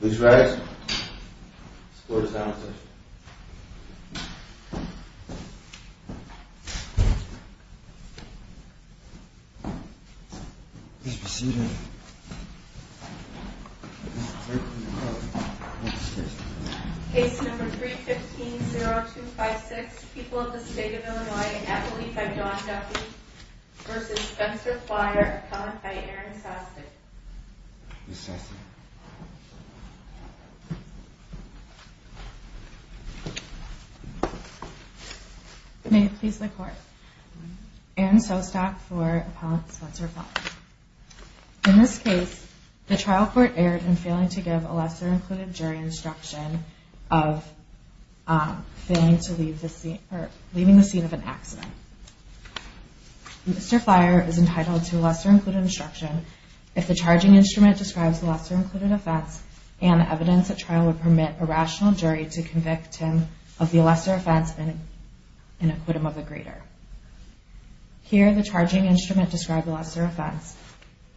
Please rise, this court is now in session. Please be seated. Case number 315-0256, People of the State of Illinois, an affidavit by John Duffy v. Spencer Flier, comment by Aaron Sastry. Mr. Sastry. May it please the court. Aaron Sostock for Appellant Spencer Flier. In this case, the trial court erred in failing to give a lesser-included jury instruction of failing to leave the scene of an accident. Mr. Flier is entitled to a lesser-included instruction if the charging instrument describes the lesser-included offense and the evidence at trial would permit a rational jury to convict him of the lesser offense in an acquittal of the greater. Here, the charging instrument describes the lesser offense.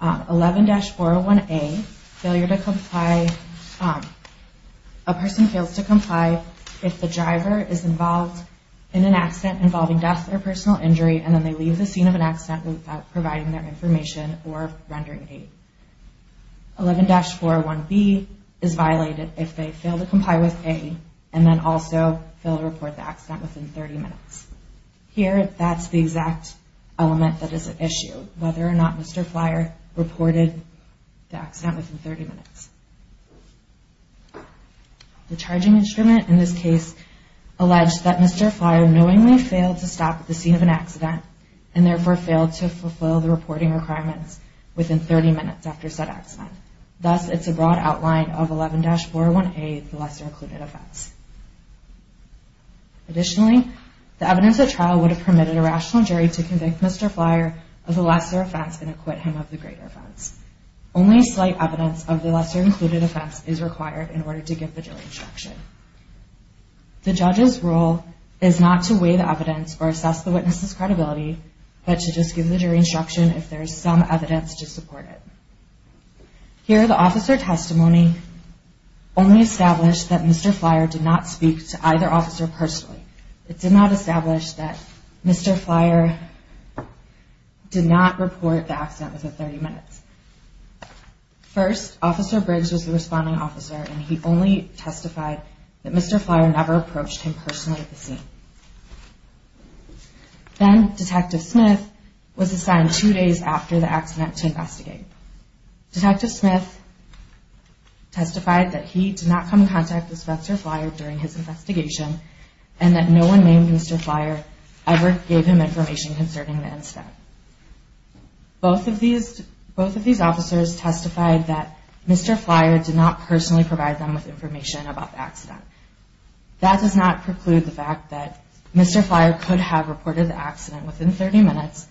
11-401A, failure to comply, a person fails to comply if the driver is involved in an accident involving death or personal injury and then they leave the scene of an accident without providing their information or rendering aid. 11-401B is violated if they fail to comply with A and then also fail to report the accident within 30 minutes. Here, that's the exact element that is at issue, whether or not Mr. Flier reported the accident within 30 minutes. The charging instrument in this case alleged that Mr. Flier knowingly failed to stop at the scene of an accident and therefore failed to fulfill the reporting requirements within 30 minutes after said accident. Thus, it's a broad outline of 11-401A, the lesser-included offense. Additionally, the evidence at trial would have permitted a rational jury to convict Mr. Flier of the lesser offense in an acquittal of the greater offense. Only slight evidence of the lesser-included offense is required in order to give the jury instruction. The judge's role is not to weigh the evidence or assess the witness's credibility, but to just give the jury instruction if there is some evidence to support it. Here, the officer testimony only established that Mr. Flier did not speak to either officer personally. It did not establish that Mr. Flier did not report the accident within 30 minutes. First, Officer Briggs was the responding officer, and he only testified that Mr. Flier never approached him personally at the scene. Then, Detective Smith was assigned two days after the accident to investigate. Detective Smith testified that he did not come in contact with Mr. Flier during his investigation and that no one named Mr. Flier ever gave him information concerning the incident. Both of these officers testified that Mr. Flier did not personally provide them with information about the accident. That does not preclude the fact that Mr. Flier could have reported the accident within 30 minutes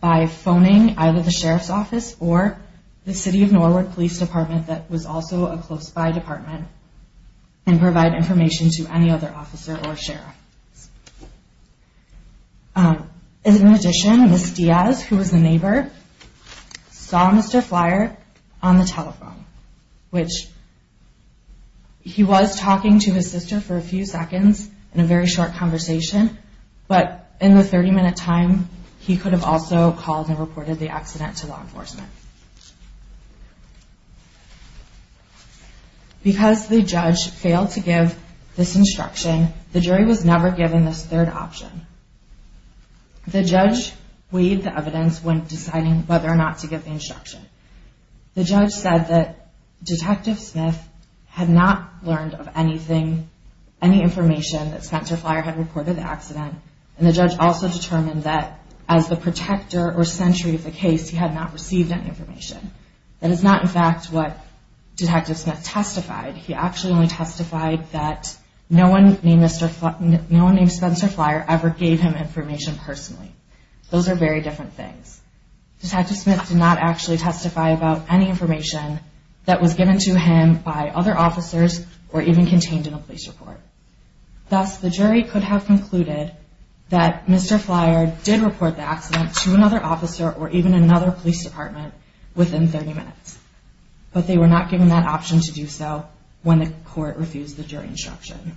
by phoning either the Sheriff's Office or the City of Norwood Police Department, that was also a close-by department, and provide information to any other officer or sheriff. In addition, Ms. Diaz, who was the neighbor, saw Mr. Flier on the telephone, which he was talking to his sister for a few seconds in a very short conversation, but in the 30-minute time, he could have also called and reported the accident to law enforcement. Because the judge failed to give this instruction, the jury was never given this third option. The judge weighed the evidence when deciding whether or not to give the instruction. The judge said that Detective Smith had not learned of any information that Spencer Flier had reported the accident, and the judge also determined that as the protector or sentry of the case, he had not received any information. That is not, in fact, what Detective Smith testified. He actually only testified that no one named Spencer Flier ever gave him information personally. Those are very different things. Detective Smith did not actually testify about any information that was given to him by other officers or even contained in a police report. Thus, the jury could have concluded that Mr. Flier did report the accident to another officer or even another police department within 30 minutes, but they were not given that option to do so when the court refused the jury instruction.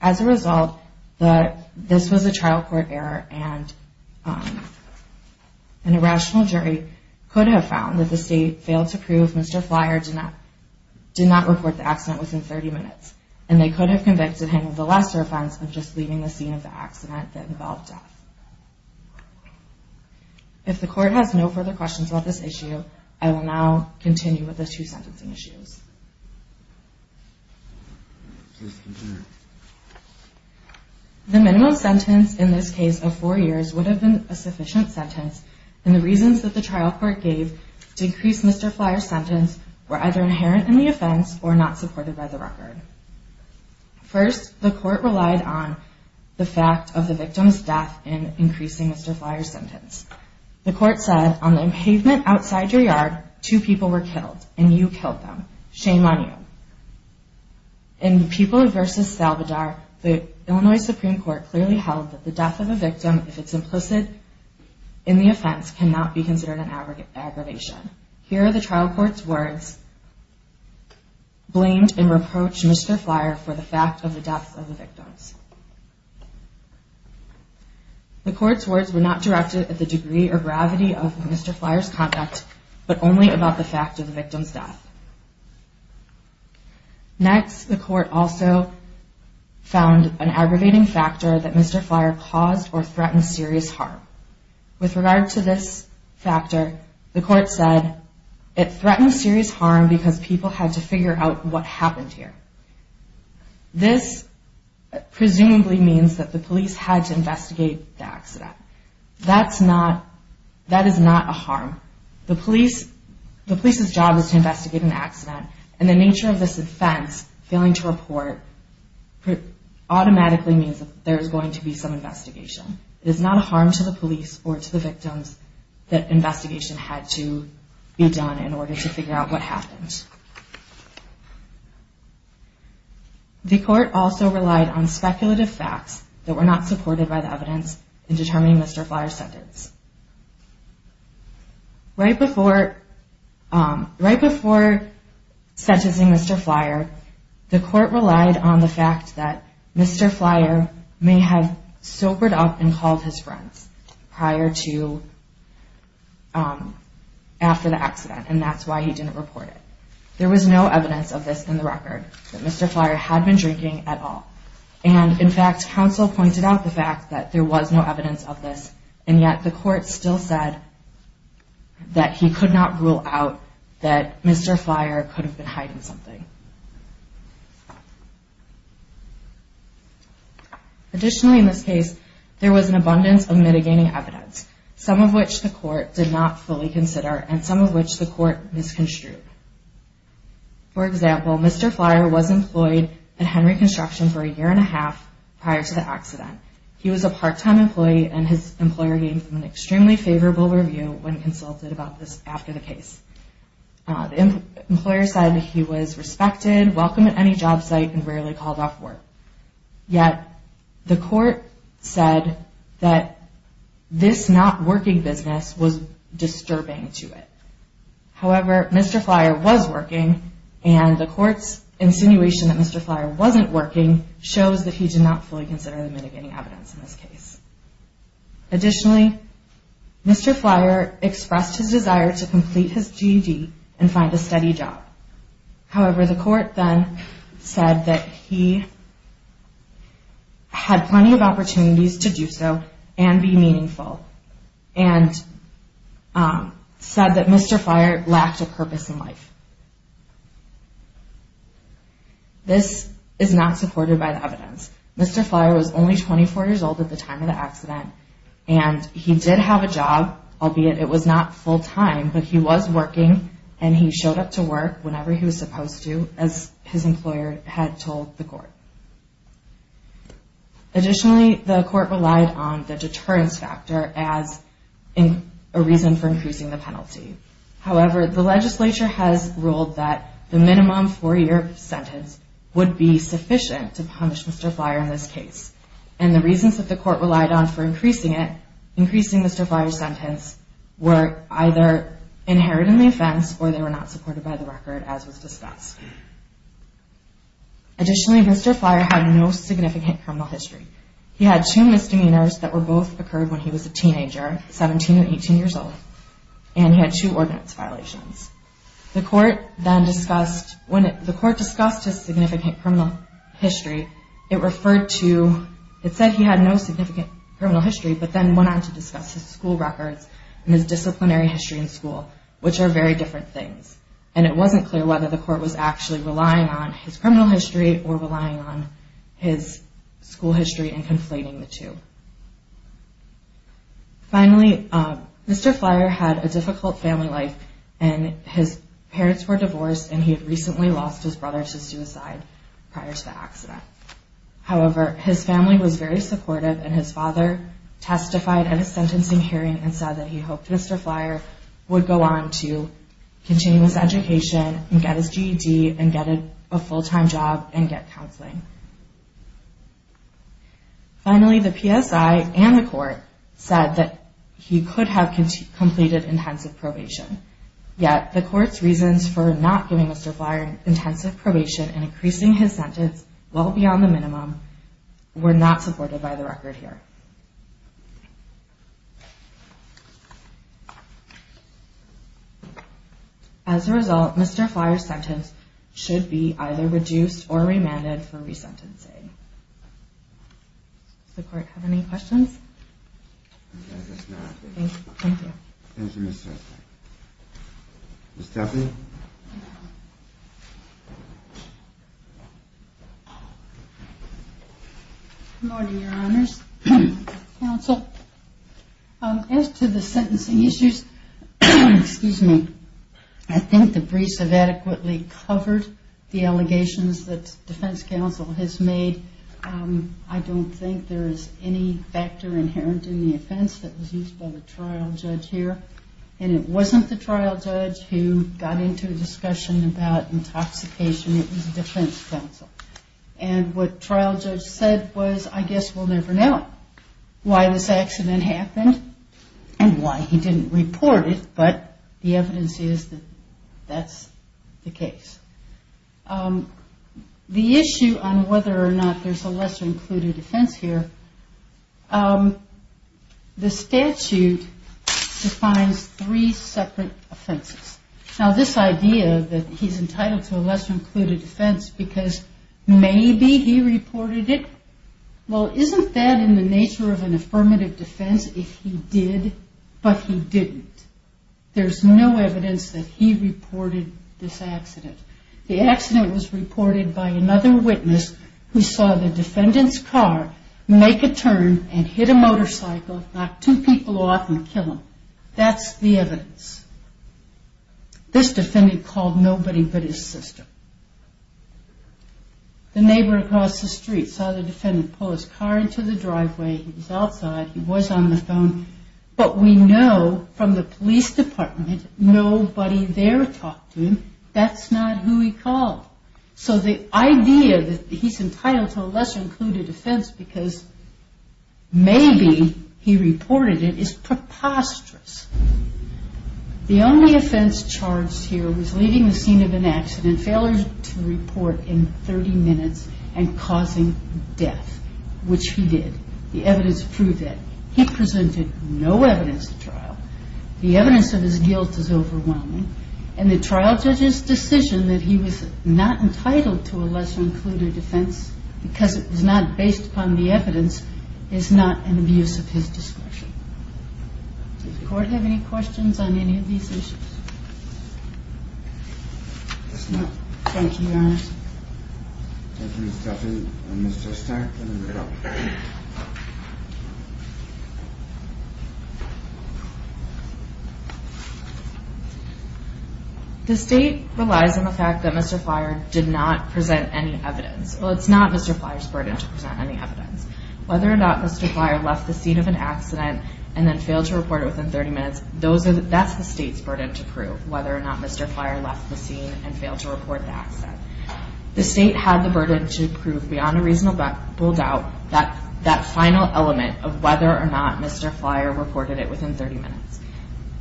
As a result, this was a trial court error, and an irrational jury could have found that the state failed to prove Mr. Flier did not report the accident within 30 minutes, and they could have convicted him of the lesser offense of just leaving the scene of the accident that involved death. If the court has no further questions about this issue, I will now continue with the two sentencing issues. The minimum sentence in this case of four years would have been a sufficient sentence, and the reasons that the trial court gave to increase Mr. Flier's sentence were either inherent in the offense or not supported by the record. First, the court relied on the fact of the victim's death in increasing Mr. Flier's sentence. The court said, on the pavement outside your yard, two people were killed, and you killed them. Shame on you. In Pupil v. Salvador, the Illinois Supreme Court clearly held that the death of a victim, if it's implicit in the offense, cannot be considered an aggravation. Here are the trial court's words blamed and reproached Mr. Flier for the fact of the death of the victims. The court's words were not directed at the degree or gravity of Mr. Flier's conduct, but only about the fact of the victim's death. Next, the court also found an aggravating factor that Mr. Flier caused or threatened serious harm. With regard to this factor, the court said it threatened serious harm because people had to figure out what happened here. This presumably means that the police had to investigate the accident. That is not a harm. The police's job is to investigate an accident, and the nature of this offense, failing to report, automatically means that there is going to be some investigation. It is not a harm to the police or to the victims that investigation had to be done in order to figure out what happened. Next, the court also relied on speculative facts that were not supported by the evidence in determining Mr. Flier's sentence. Right before sentencing Mr. Flier, the court relied on the fact that Mr. Flier may have soapered up and called his friends prior to, after the accident, and that's why he didn't report it. There was no evidence of this in the record, that Mr. Flier had been drinking at all. And in fact, counsel pointed out the fact that there was no evidence of this, and yet the court still said that he could not rule out that Mr. Flier could have been hiding something. Additionally, in this case, there was an abundance of mitigating evidence, some of which the court did not fully consider, and some of which the court misconstrued. For example, Mr. Flier was employed at Henry Construction for a year and a half prior to the accident. He was a part-time employee, and his employer gave him an extremely favorable review when consulted about this after the case. The employer said that he was respected, welcome at any job site, and rarely called off work. Yet, the court said that this not-working business was disturbing to it. However, Mr. Flier was working, and the court's insinuation that Mr. Flier wasn't working shows that he did not fully consider the mitigating evidence in this case. Additionally, Mr. Flier expressed his desire to complete his GED and find a steady job. However, the court then said that he had plenty of opportunities to do so and be meaningful, and said that Mr. Flier lacked a purpose in life. Mr. Flier was only 24 years old at the time of the accident, and he did have a job, albeit it was not full-time, but he was working, and he showed up to work whenever he was supposed to, as his employer had told the court. Additionally, the court relied on the deterrence factor as a reason for increasing the penalty. However, the legislature has ruled that the minimum four-year sentence would be sufficient to punish Mr. Flier in this case, and the reasons that the court relied on for increasing Mr. Flier's sentence were either inherent in the offense or they were not supported by the record, as was discussed. Additionally, Mr. Flier had no significant criminal history. He had two misdemeanors that both occurred when he was a teenager, 17 or 18 years old, and he had two ordinance violations. When the court discussed his significant criminal history, it said he had no significant criminal history, but then went on to discuss his school records and his disciplinary history in school, which are very different things, and it wasn't clear whether the court was actually relying on his criminal history or relying on his school history and conflating the two. Finally, Mr. Flier had a difficult family life, and his parents were divorced, and he had recently lost his brother to suicide prior to the accident. However, his family was very supportive, and his father testified at a sentencing hearing and said that he hoped Mr. Flier would go on to continuous education and get his GED and get a full-time job and get counseling. Finally, the PSI and the court said that he could have completed intensive probation, yet the court's reasons for not giving Mr. Flier intensive probation and increasing his sentence well beyond the minimum were not supported by the record here. As a result, Mr. Flier's sentence should be either reduced or remanded for resentencing. Does the court have any questions? I guess not. Thank you. Thank you, Ms. Huffman. Ms. Stephanie? Good morning, Your Honors. Counsel, as to the sentencing issues, I think the briefs have adequately covered the allegations that defense counsel has made. I don't think there is any factor inherent in the offense that was used by the trial judge here, and it wasn't the trial judge who got into a discussion about intoxication. It was defense counsel. And what trial judge said was, I guess we'll never know why this accident happened and why he didn't report it, but the evidence is that that's the case. The issue on whether or not there's a lesser-included offense here, the statute defines three separate offenses. Now, this idea that he's entitled to a lesser-included offense because maybe he reported it, well, isn't that in the nature of an affirmative defense if he did, but he didn't? There's no evidence that he reported this accident. The accident was reported by another witness who saw the defendant's car make a turn and hit a motorcycle, knock two people off, and kill them. That's the evidence. This defendant called nobody but his sister. The neighbor across the street saw the defendant pull his car into the driveway. He was outside. He was on the phone. But we know from the police department nobody there talked to him. That's not who he called. So the idea that he's entitled to a lesser-included offense because maybe he reported it is preposterous. The only offense charged here was leaving the scene of an accident, failure to report in 30 minutes, and causing death, which he did. The evidence proved that. He presented no evidence at trial. The evidence of his guilt is overwhelming. And the trial judge's decision that he was not entitled to a lesser-included offense because it was not based upon the evidence is not an abuse of his discretion. Does the court have any questions on any of these issues? Yes, ma'am. Thank you, Your Honor. The state relies on the fact that Mr. Flier did not present any evidence. Well, it's not Mr. Flier's burden to present any evidence. Whether or not Mr. Flier left the scene of an accident and then failed to report it within 30 minutes, that's the state's burden to prove, whether or not Mr. Flier left the scene and failed to report the accident. The state had the burden to prove beyond a reasonable doubt that final element of whether or not Mr. Flier reported it within 30 minutes.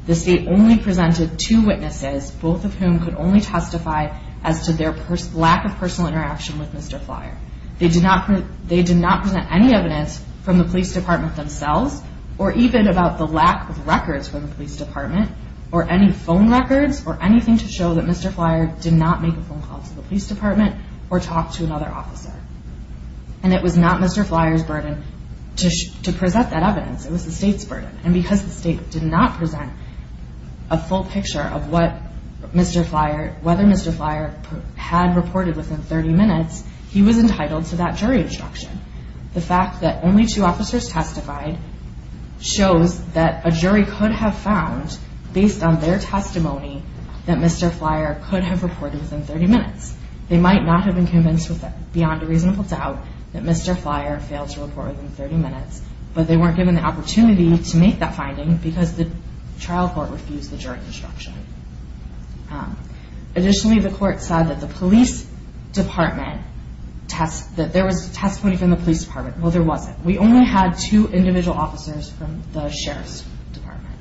The state only presented two witnesses, both of whom could only testify as to their lack of personal interaction with Mr. Flier. They did not present any evidence from the police department themselves or even about the lack of records from the police department or any phone records or anything to show that Mr. Flier did not make a phone call to the police department or talk to another officer. And it was not Mr. Flier's burden to present that evidence. It was the state's burden. And because the state did not present a full picture of whether Mr. Flier had reported within 30 minutes, he was entitled to that jury instruction. The fact that only two officers testified shows that a jury could have found, based on their testimony, that Mr. Flier could have reported within 30 minutes. They might not have been convinced beyond a reasonable doubt that Mr. Flier failed to report within 30 minutes, but they weren't given the opportunity to make that finding because the trial court refused the jury instruction. Additionally, the court said that there was testimony from the police department. Well, there wasn't. We only had two individual officers from the sheriff's department.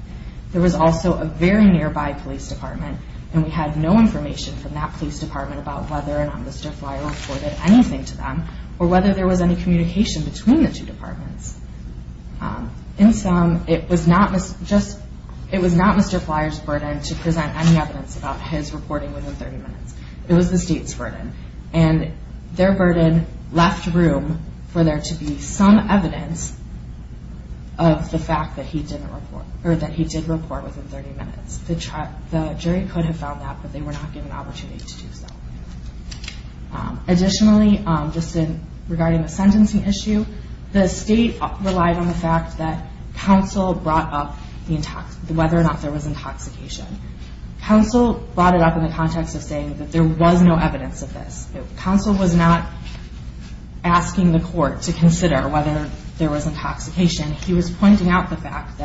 There was also a very nearby police department, and we had no information from that police department about whether or not Mr. Flier reported anything to them or whether there was any communication between the two departments. In sum, it was not Mr. Flier's burden to present any evidence about his reporting within 30 minutes. It was the state's burden, and their burden left room for there to be some evidence of the fact that he did report within 30 minutes. The jury could have found that, but they were not given the opportunity to do so. Additionally, just regarding the sentencing issue, the state relied on the fact that counsel brought up whether or not there was intoxication. Counsel brought it up in the context of saying that there was no evidence of this. Counsel was not asking the court to consider whether there was intoxication. He was pointing out the fact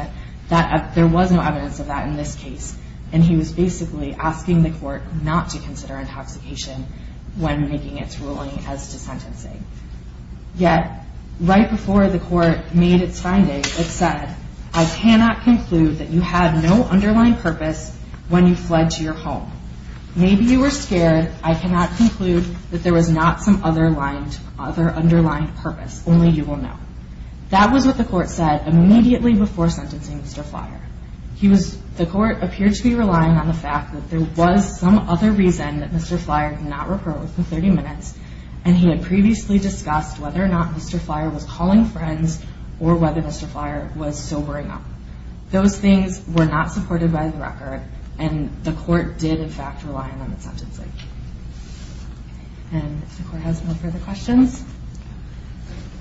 that there was no evidence of that in this case, and he was basically asking the court not to consider intoxication when making its ruling as to sentencing. Yet, right before the court made its finding, it said, I cannot conclude that you had no underlying purpose when you fled to your home. Maybe you were scared. I cannot conclude that there was not some other underlying purpose. Only you will know. That was what the court said immediately before sentencing Mr. Flier. The court appeared to be relying on the fact that there was some other reason that Mr. Flier did not report within 30 minutes, and he had previously discussed whether or not Mr. Flier was calling friends or whether Mr. Flier was sobering up. Those things were not supported by the record, and the court did, in fact, rely on them at sentencing. And if the court has no further questions.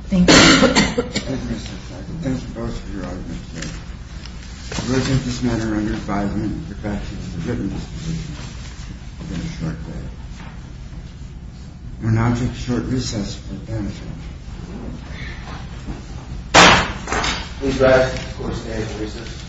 Thank you. Thank you, Mr. Feigl. Thank you both for your arguments today. I will take this matter under advisement, the fact that you have given this decision within a short period. We will now take a short recess for the panel discussion. Please rise. Court is at recess.